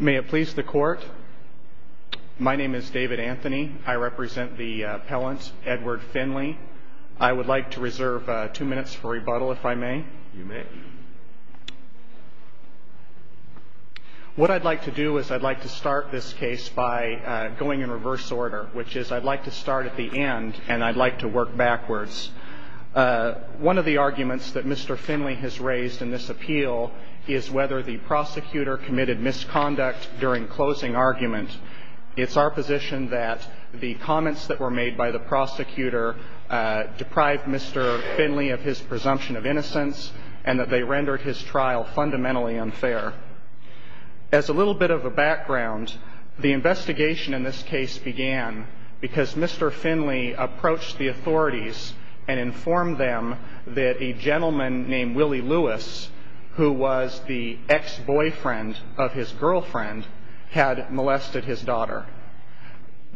May it please the court. My name is David Anthony. I represent the appellant Edward Finley. I would like to reserve two minutes for rebuttal if I may. You may. What I'd like to do is I'd like to start this case by going in reverse order, which is I'd like to start at the end and I'd like to work backwards. One of the arguments that Mr. Finley has raised in this appeal is whether the prosecutor committed misconduct during closing argument. It's our position that the comments that were made by the prosecutor deprived Mr. Finley of his presumption of innocence and that they rendered his trial fundamentally unfair. As a little bit of a background, the investigation in this case began because Mr. Finley approached the authorities and informed them that a gentleman named Willie Lewis, who was the ex-boyfriend of his girlfriend, had molested his daughter.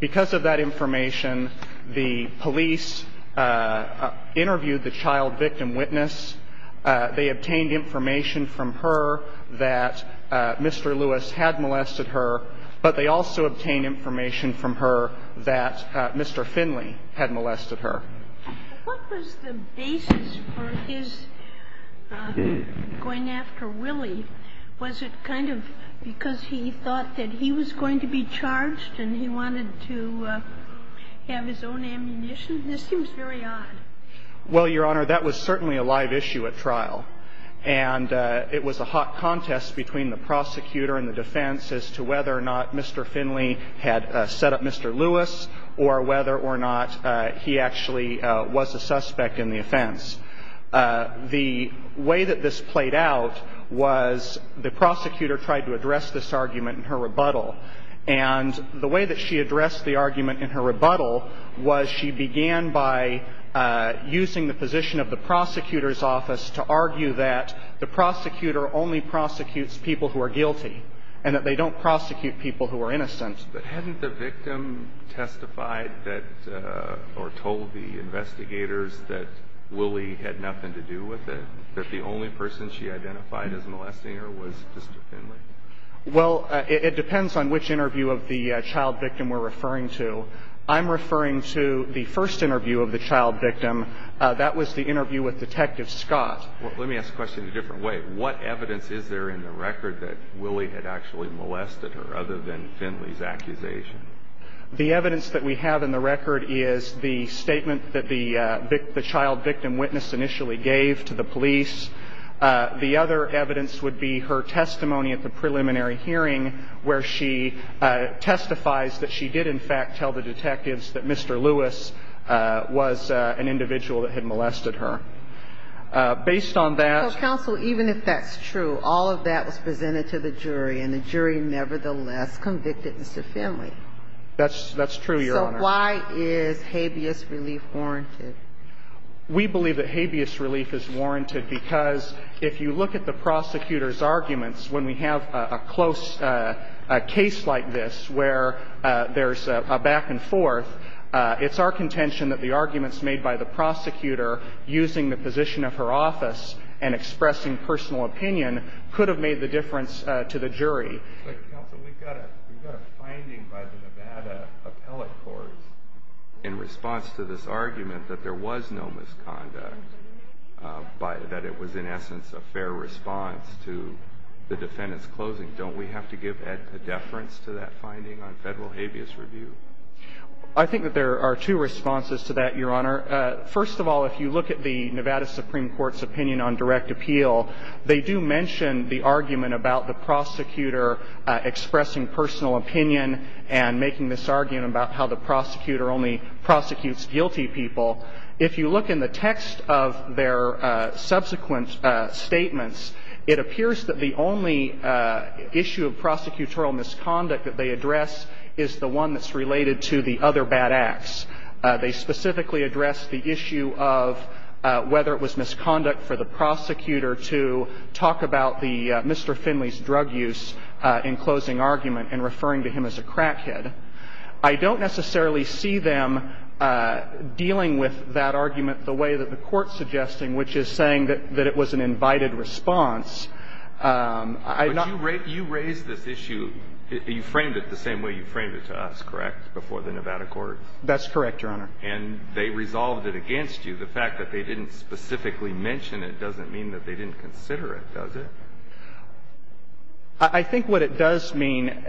Because of that information, the police interviewed the child victim witness. They obtained information from her that Mr. Lewis had molested her, but they also obtained information from her that Mr. Finley had molested her. What was the basis for his going after Willie? Was it kind of because he thought that he was going to be charged and he wanted to have his own ammunition? This seems very odd. Well, Your Honor, that was certainly a live issue at trial. And it was a hot contest between the prosecutor and the defense as to whether or not Mr. Finley had set up Mr. Lewis or whether or not he actually was a suspect in the offense. The way that this played out was the prosecutor tried to address this argument in her rebuttal. And the way that she addressed the argument in her rebuttal was she began by using the position of the prosecutor's office to argue that the prosecutor only prosecutes people who are guilty and that they don't prosecute people who are innocent. But hadn't the victim testified that or told the investigators that Willie had nothing to do with it, that the only person she identified as molesting her was Mr. Finley? Well, it depends on which interview of the child victim we're referring to. I'm referring to the first interview of the child victim. That was the interview with Detective Scott. Let me ask the question a different way. What evidence is there in the record that Willie had actually molested her other than Finley's accusation? The evidence that we have in the record is the statement that the child victim witness initially gave to the police. The other evidence would be her testimony at the preliminary hearing where she testifies that she did, in fact, tell the detectives that Mr. Lewis was an individual that had molested her. Based on that. Counsel, even if that's true, all of that was presented to the jury and the jury nevertheless convicted Mr. Finley. That's true, Your Honor. So why is habeas relief warranted? We believe that habeas relief is warranted because if you look at the prosecutor's arguments, when we have a close case like this where there's a back and forth, it's our contention that the arguments made by the prosecutor using the position of her office and expressing personal opinion could have made the difference to the jury. Counsel, we've got a finding by the Nevada appellate courts in response to this argument that there was no misconduct, that it was in essence a fair response to the defendant's closing. Don't we have to give deference to that finding on federal habeas review? I think that there are two responses to that, Your Honor. First of all, if you look at the Nevada Supreme Court's opinion on direct appeal, they do mention the argument about the prosecutor expressing personal opinion and making this argument about how the prosecutor only prosecutes guilty people. If you look in the text of their subsequent statements, it appears that the only issue of prosecutorial misconduct that they address is the one that's related to the other bad acts. They specifically address the issue of whether it was misconduct for the prosecutor to talk about the Mr. Finley's drug use in closing argument and referring to him as a crackhead. I don't necessarily see them dealing with that argument the way that the Court's suggesting, which is saying that it was an invited response. I'm not going to raise this issue. You framed it the same way you framed it to us, correct, before the Nevada court? That's correct, Your Honor. And they resolved it against you. The fact that they didn't specifically mention it doesn't mean that they didn't consider it, does it? I think what it does mean,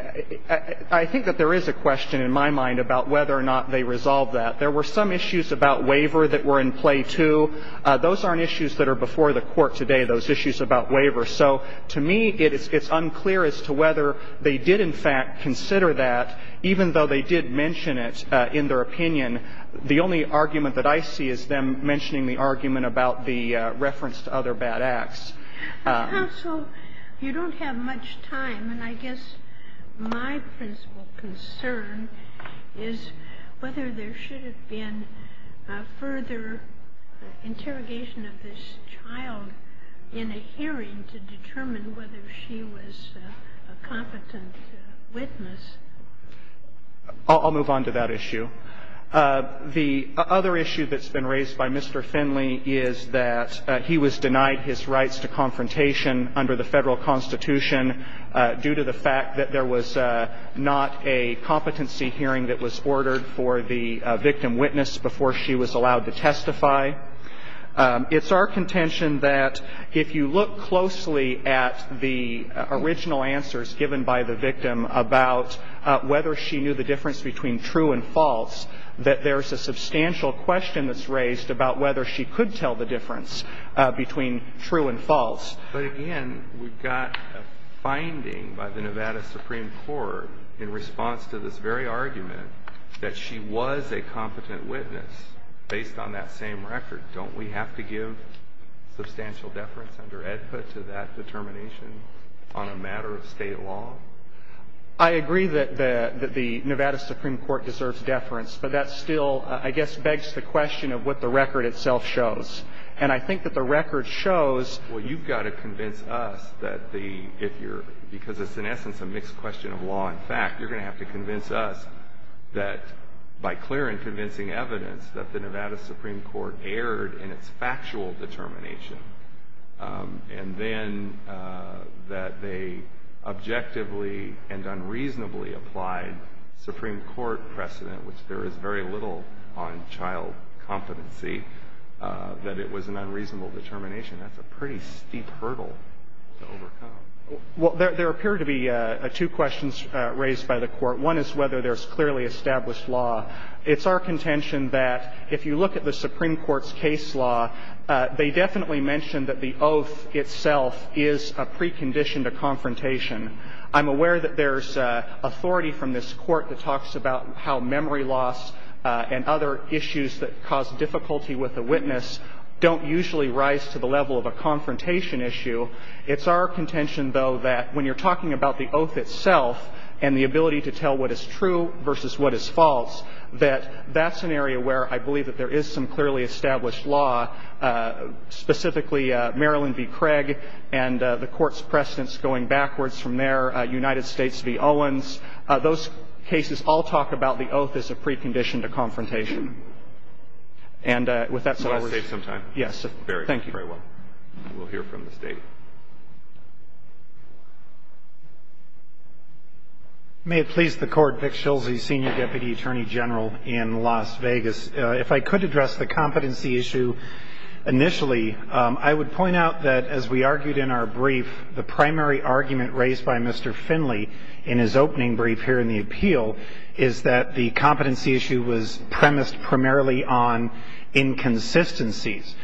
I think that there is a question in my mind about whether or not they resolved that. There were some issues about waiver that were in play, too. Those aren't issues that are before the Court today, those issues about waiver. So to me, it's unclear as to whether they did in fact consider that, even though they did mention it in their opinion. The only argument that I see is them mentioning the argument about the reference to other bad acts. Counsel, you don't have much time, and I guess my principal concern is whether there should have been a further interrogation of this child in a hearing to determine whether she was a competent witness. I'll move on to that issue. The other issue that's been raised by Mr. Finley is that he was denied his rights to confrontation under the Federal Constitution due to the fact that there was not a competency hearing that was ordered for the victim witness before she was allowed to testify. It's our contention that if you look closely at the original answers given by the victim about whether she knew the difference between true and false, that there's a substantial question that's raised about whether she could tell the difference between true and false. But again, we've got a finding by the Nevada Supreme Court in response to this very argument that she was a competent witness based on that same record. Don't we have to give substantial deference under EDPA to that determination on a matter of state law? I agree that the Nevada Supreme Court deserves deference, but that still I guess begs the question of what the record itself shows. And I think that the record shows Well, you've got to convince us that the, if you're, because it's in essence a mixed question of law and fact, you're going to have to convince us that by clear and convincing evidence that the Nevada Supreme Court erred in its factual determination. And then that they objectively and unreasonably applied Supreme Court precedent, which there is very little on child competency, that it was an unreasonable determination. That's a pretty steep hurdle to overcome. Well, there appear to be two questions raised by the Court. One is whether there's clearly established law. It's our contention that if you look at the Supreme Court's case law, they definitely mentioned that the oath itself is a precondition to confrontation. I'm aware that there's authority from this Court that talks about how memory loss and other issues that cause difficulty with a witness don't usually rise to the level of a confrontation issue. It's our contention, though, that when you're talking about the oath itself and the ability to tell what is true versus what is false, that that's an area where I believe that there is some clearly established law, specifically Marilyn v. Craig and the Court's precedents going backwards from there, United States v. Owens. Those cases all talk about the oath as a precondition to confrontation. And with that, so I was going to save some time. Yes. Thank you. Very well. We'll hear from the State. May it please the Court, Vic Schilse, Senior Deputy Attorney General in Las Vegas. If I could address the competency issue initially, I would point out that as we argued in our brief, the primary argument raised by Mr. Finley in his opening brief here in the appeal is that the competency issue was premised primarily on inconsistencies.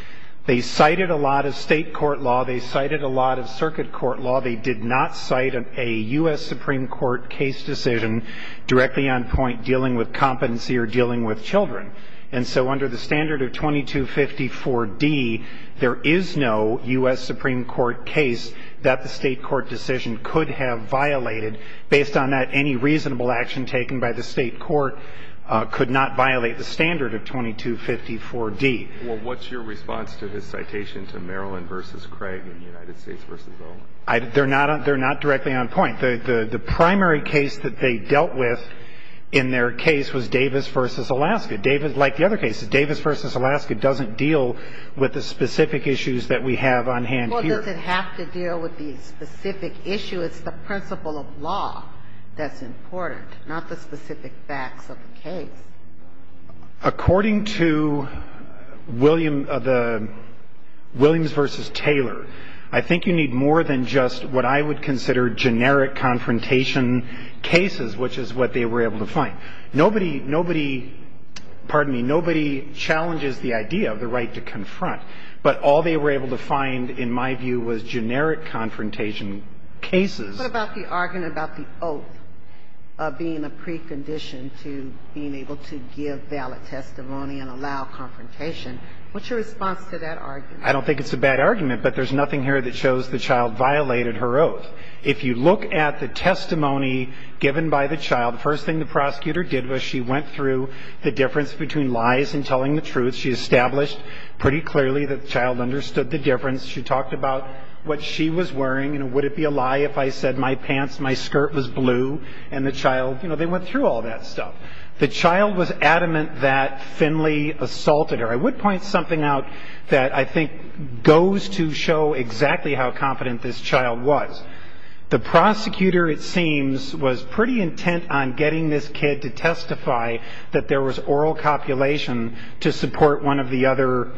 They cited a lot of state court law. They cited a lot of circuit court law. They did not cite a U.S. Supreme Court case decision directly on point dealing with And so under the standard of 2254D, there is no U.S. Supreme Court case that the state court decision could have violated. Based on that, any reasonable action taken by the state court could not violate the standard of 2254D. Well, what's your response to his citation to Marilyn v. Craig and United States v. Owens? They're not directly on point. The primary case that they dealt with in their case was Davis v. Alaska. Like the other cases, Davis v. Alaska doesn't deal with the specific issues that we have on hand here. Well, does it have to deal with the specific issue? It's the principle of law that's important, not the specific facts of the case. According to Williams v. Taylor, I think you need more than just what I would consider generic confrontation cases, which is what they were able to find. Nobody, nobody, pardon me, nobody challenges the idea of the right to confront. But all they were able to find, in my view, was generic confrontation cases. What about the argument about the oath of being a precondition to being able to give valid testimony and allow confrontation? What's your response to that argument? I don't think it's a bad argument, but there's nothing here that shows the child violated her oath. If you look at the testimony given by the child, the first thing the prosecutor did was she went through the difference between lies and telling the truth. She established pretty clearly that the child understood the difference. She talked about what she was wearing, you know, would it be a lie if I said my pants, my skirt was blue, and the child, you know, they went through all that stuff. The child was adamant that Finley assaulted her. I would point something out that I think goes to show exactly how confident this child was. The prosecutor, it seems, was pretty intent on getting this kid to testify that there was oral copulation to support one of the other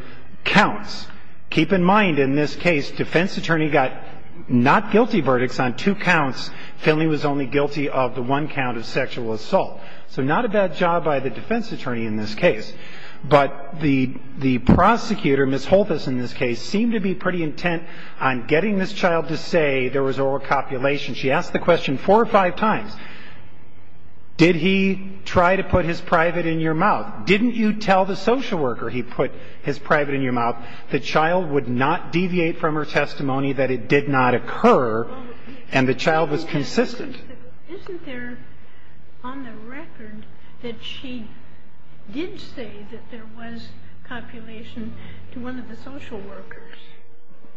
counts. Keep in mind, in this case, defense attorney got not guilty verdicts on two counts. Finley was only guilty of the one count of sexual assault. So not a bad job by the defense attorney in this case. But the prosecutor, Ms. Holthus in this case, seemed to be pretty intent on getting this child to say there was oral copulation. She asked the question four or five times. Did he try to put his private in your mouth? Didn't you tell the social worker he put his private in your mouth? The child would not deviate from her testimony that it did not occur, and the child was consistent. Isn't there on the record that she did say that there was copulation to one of the social workers?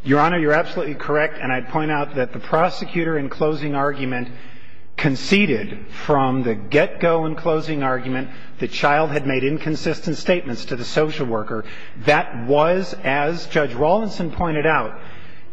Your Honor, you're absolutely correct, and I'd point out that the prosecutor in closing argument conceded from the get-go in closing argument the child had made inconsistent statements to the social worker. That was, as Judge Rawlinson pointed out,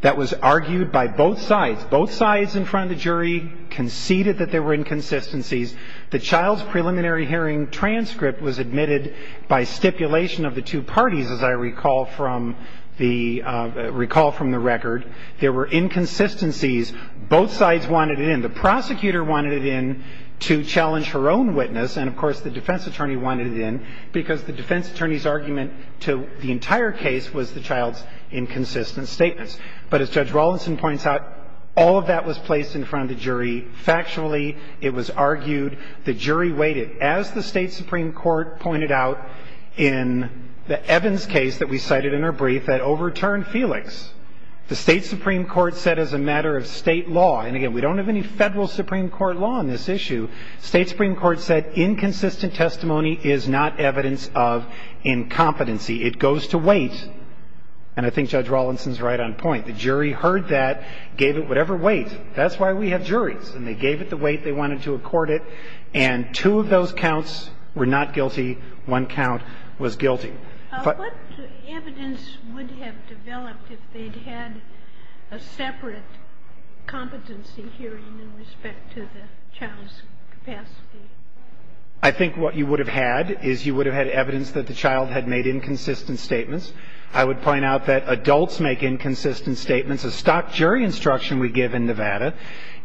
that was argued by both sides. Both sides in front of the jury conceded that there were inconsistencies. The child's preliminary hearing transcript was admitted by stipulation of the two parties, as I recall from the record. There were inconsistencies. Both sides wanted it in. The prosecutor wanted it in to challenge her own witness, and, of course, the defense attorney wanted it in because the defense attorney's argument to the entire case was the child's inconsistent statements. But as Judge Rawlinson points out, all of that was placed in front of the jury factually. It was argued. The jury waited. As the State Supreme Court pointed out in the Evans case that we cited in our brief that overturned Felix, the State Supreme Court said as a matter of state law, and, again, we don't have any federal Supreme Court law on this issue, State Supreme Court said inconsistent testimony is not evidence of incompetency. It goes to wait. And I think Judge Rawlinson's right on point. The jury heard that, gave it whatever weight. That's why we have juries. And they gave it the weight they wanted to accord it. And two of those counts were not guilty. One count was guilty. But the evidence would have developed if they'd had a separate competency hearing in respect to the child's capacity. I think what you would have had is you would have had evidence that the child had made inconsistent statements. I would point out that adults make inconsistent statements. A stock jury instruction we give in Nevada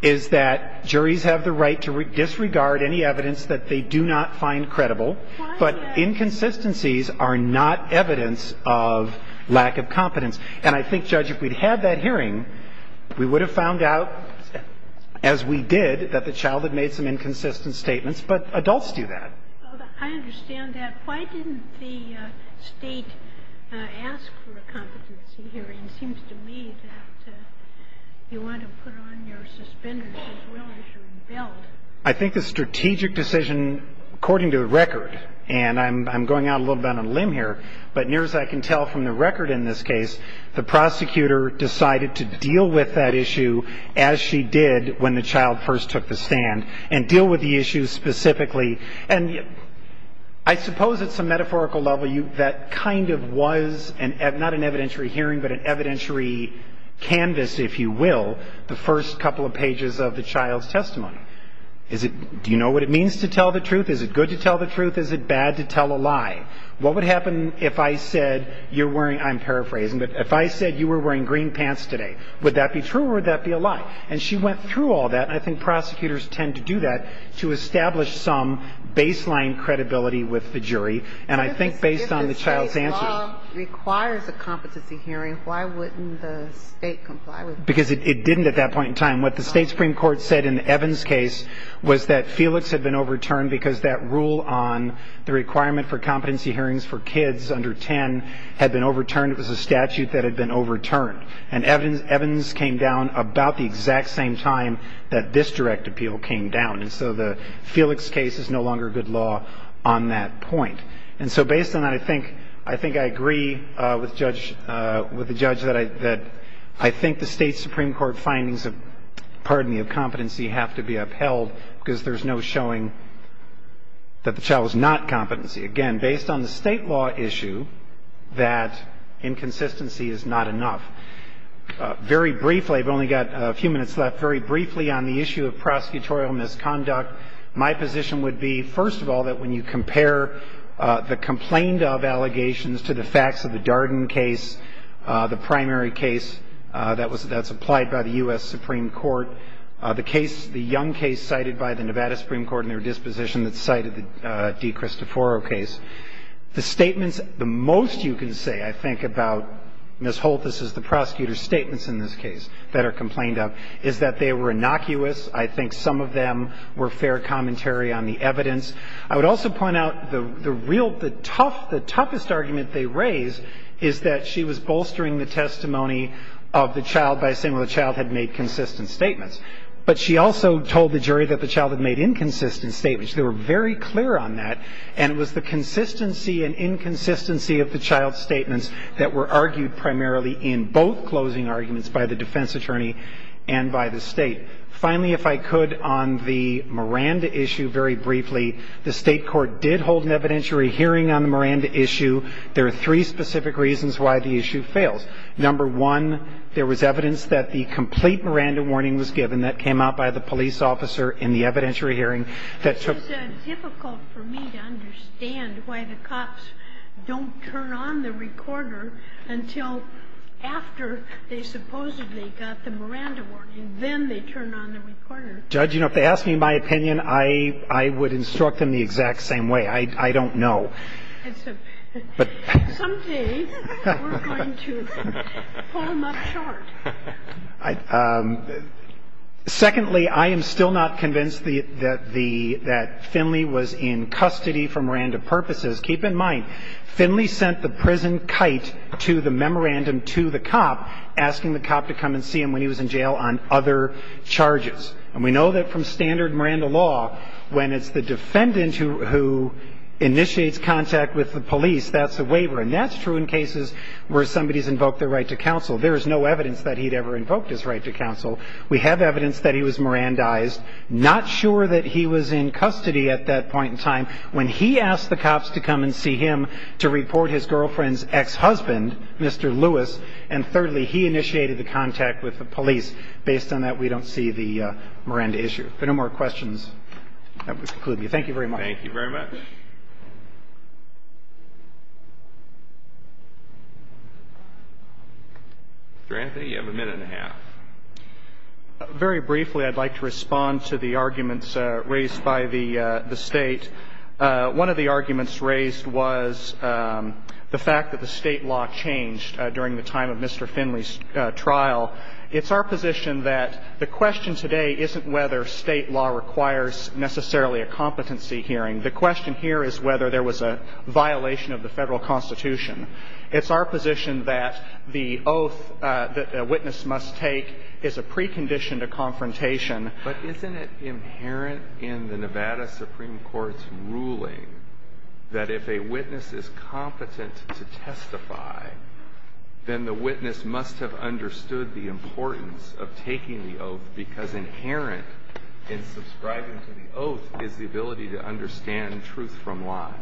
is that juries have the right to disregard any evidence that they do not find credible. But inconsistencies are not evidence of lack of competence. And I think, Judge, if we'd had that hearing, we would have found out, as we did, that the child had made some inconsistent statements. But adults do that. I understand that. Why didn't the State ask for a competency hearing? It seems to me that you want to put on your suspenders as well as your belt. I think the strategic decision, according to the record, and I'm going out a little bit on a limb here, but near as I can tell from the record in this case, the prosecutor decided to deal with that issue as she did when the child first took the stand and deal with the issue specifically. And I suppose at some metaphorical level, that kind of was not an evidentiary hearing but an evidentiary canvas, if you will, the first couple of pages of the child's testimony. Do you know what it means to tell the truth? Is it good to tell the truth? Is it bad to tell a lie? What would happen if I said you're wearing, I'm paraphrasing, but if I said you were wearing green pants today? Would that be true or would that be a lie? And she went through all that. And I think prosecutors tend to do that to establish some baseline credibility with the jury. And I think based on the child's answer. If the state law requires a competency hearing, why wouldn't the state comply with that? Because it didn't at that point in time. What the state supreme court said in Evans' case was that Felix had been overturned because that rule on the requirement for competency hearings for kids under 10 had been overturned. It was a statute that had been overturned. And Evans came down about the exact same time that this direct appeal came down. And so the Felix case is no longer good law on that point. And so based on that, I think I agree with the judge that I think the state supreme court findings of, pardon me, of competency have to be upheld because there's no showing that the child was not competency. Again, based on the state law issue, that inconsistency is not enough. Very briefly, I've only got a few minutes left. Very briefly on the issue of prosecutorial misconduct, my position would be, first of all, that when you compare the complained of allegations to the facts of the Darden case, the primary case that's applied by the U.S. Supreme Court, the case, the case cited by the Nevada Supreme Court in their disposition that cited the De Cristoforo case, the statements, the most you can say, I think, about Ms. Holt, this is the prosecutor's statements in this case that are complained of, is that they were innocuous. I think some of them were fair commentary on the evidence. I would also point out the real, the tough, the toughest argument they raise is that she was bolstering the testimony of the child by saying, well, the child had made consistent statements. But she also told the jury that the child had made inconsistent statements. They were very clear on that. And it was the consistency and inconsistency of the child's statements that were argued primarily in both closing arguments by the defense attorney and by the State. Finally, if I could, on the Miranda issue, very briefly, the State court did hold an evidentiary hearing on the Miranda issue. There are three specific reasons why the issue fails. Number one, there was evidence that the complete Miranda warning was given. That came out by the police officer in the evidentiary hearing. That took... It's difficult for me to understand why the cops don't turn on the recorder until after they supposedly got the Miranda warning. Then they turn on the recorder. Judge, you know, if they asked me my opinion, I would instruct them the exact same way. I don't know. Someday we're going to pull them up short. Secondly, I am still not convinced that Finley was in custody for Miranda purposes. Keep in mind, Finley sent the prison kite to the memorandum to the cop, asking the cop to come and see him when he was in jail on other charges. And we know that from standard Miranda law, when it's the defendant who initiates contact with the police, that's a waiver. And that's true in cases where somebody's invoked their right to counsel. There is no evidence that he'd ever invoked his right to counsel. We have evidence that he was Mirandized, not sure that he was in custody at that point in time. When he asked the cops to come and see him to report his girlfriend's ex-husband, Mr. Lewis, and thirdly, he initiated the contact with the police. Based on that, we don't see the Miranda issue. If there are no more questions, that would conclude me. Thank you very much. Thank you very much. Mr. Anthony, you have a minute and a half. Very briefly, I'd like to respond to the arguments raised by the State. One of the arguments raised was the fact that the State law changed during the time of Mr. Finley's trial. It's our position that the question today isn't whether State law requires necessarily a competency hearing. The question here is whether there was a violation of the Federal Constitution. It's our position that the oath that a witness must take is a precondition to confrontation. But isn't it inherent in the Nevada Supreme Court's ruling that if a witness is competent to testify, then the witness must have understood the importance of taking the oath, because inherent in subscribing to the oath is the ability to understand truth from lie?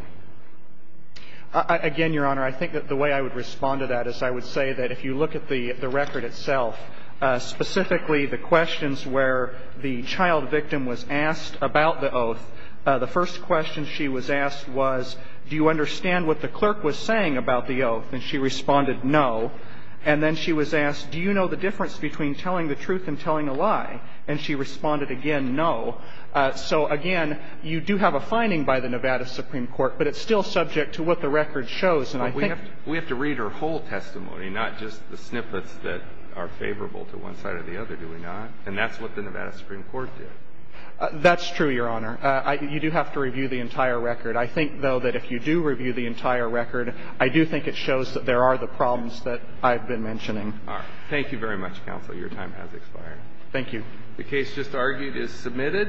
Again, Your Honor, I think that the way I would respond to that is I would say that if you look at the record itself, specifically the questions where the child victim was asked about the oath, the first question she was asked was, do you understand what the clerk was saying about the oath? And she responded, no. And then she was asked, do you know the difference between telling the truth and telling a lie? And she responded again, no. So, again, you do have a finding by the Nevada Supreme Court, but it's still subject to what the record shows. But we have to read her whole testimony, not just the snippets that are favorable to one side or the other, do we not? And that's what the Nevada Supreme Court did. That's true, Your Honor. You do have to review the entire record. I think, though, that if you do review the entire record, I do think it shows that there are the problems that I've been mentioning. All right. Thank you very much, counsel. Your time has expired. Thank you. The case just argued is submitted.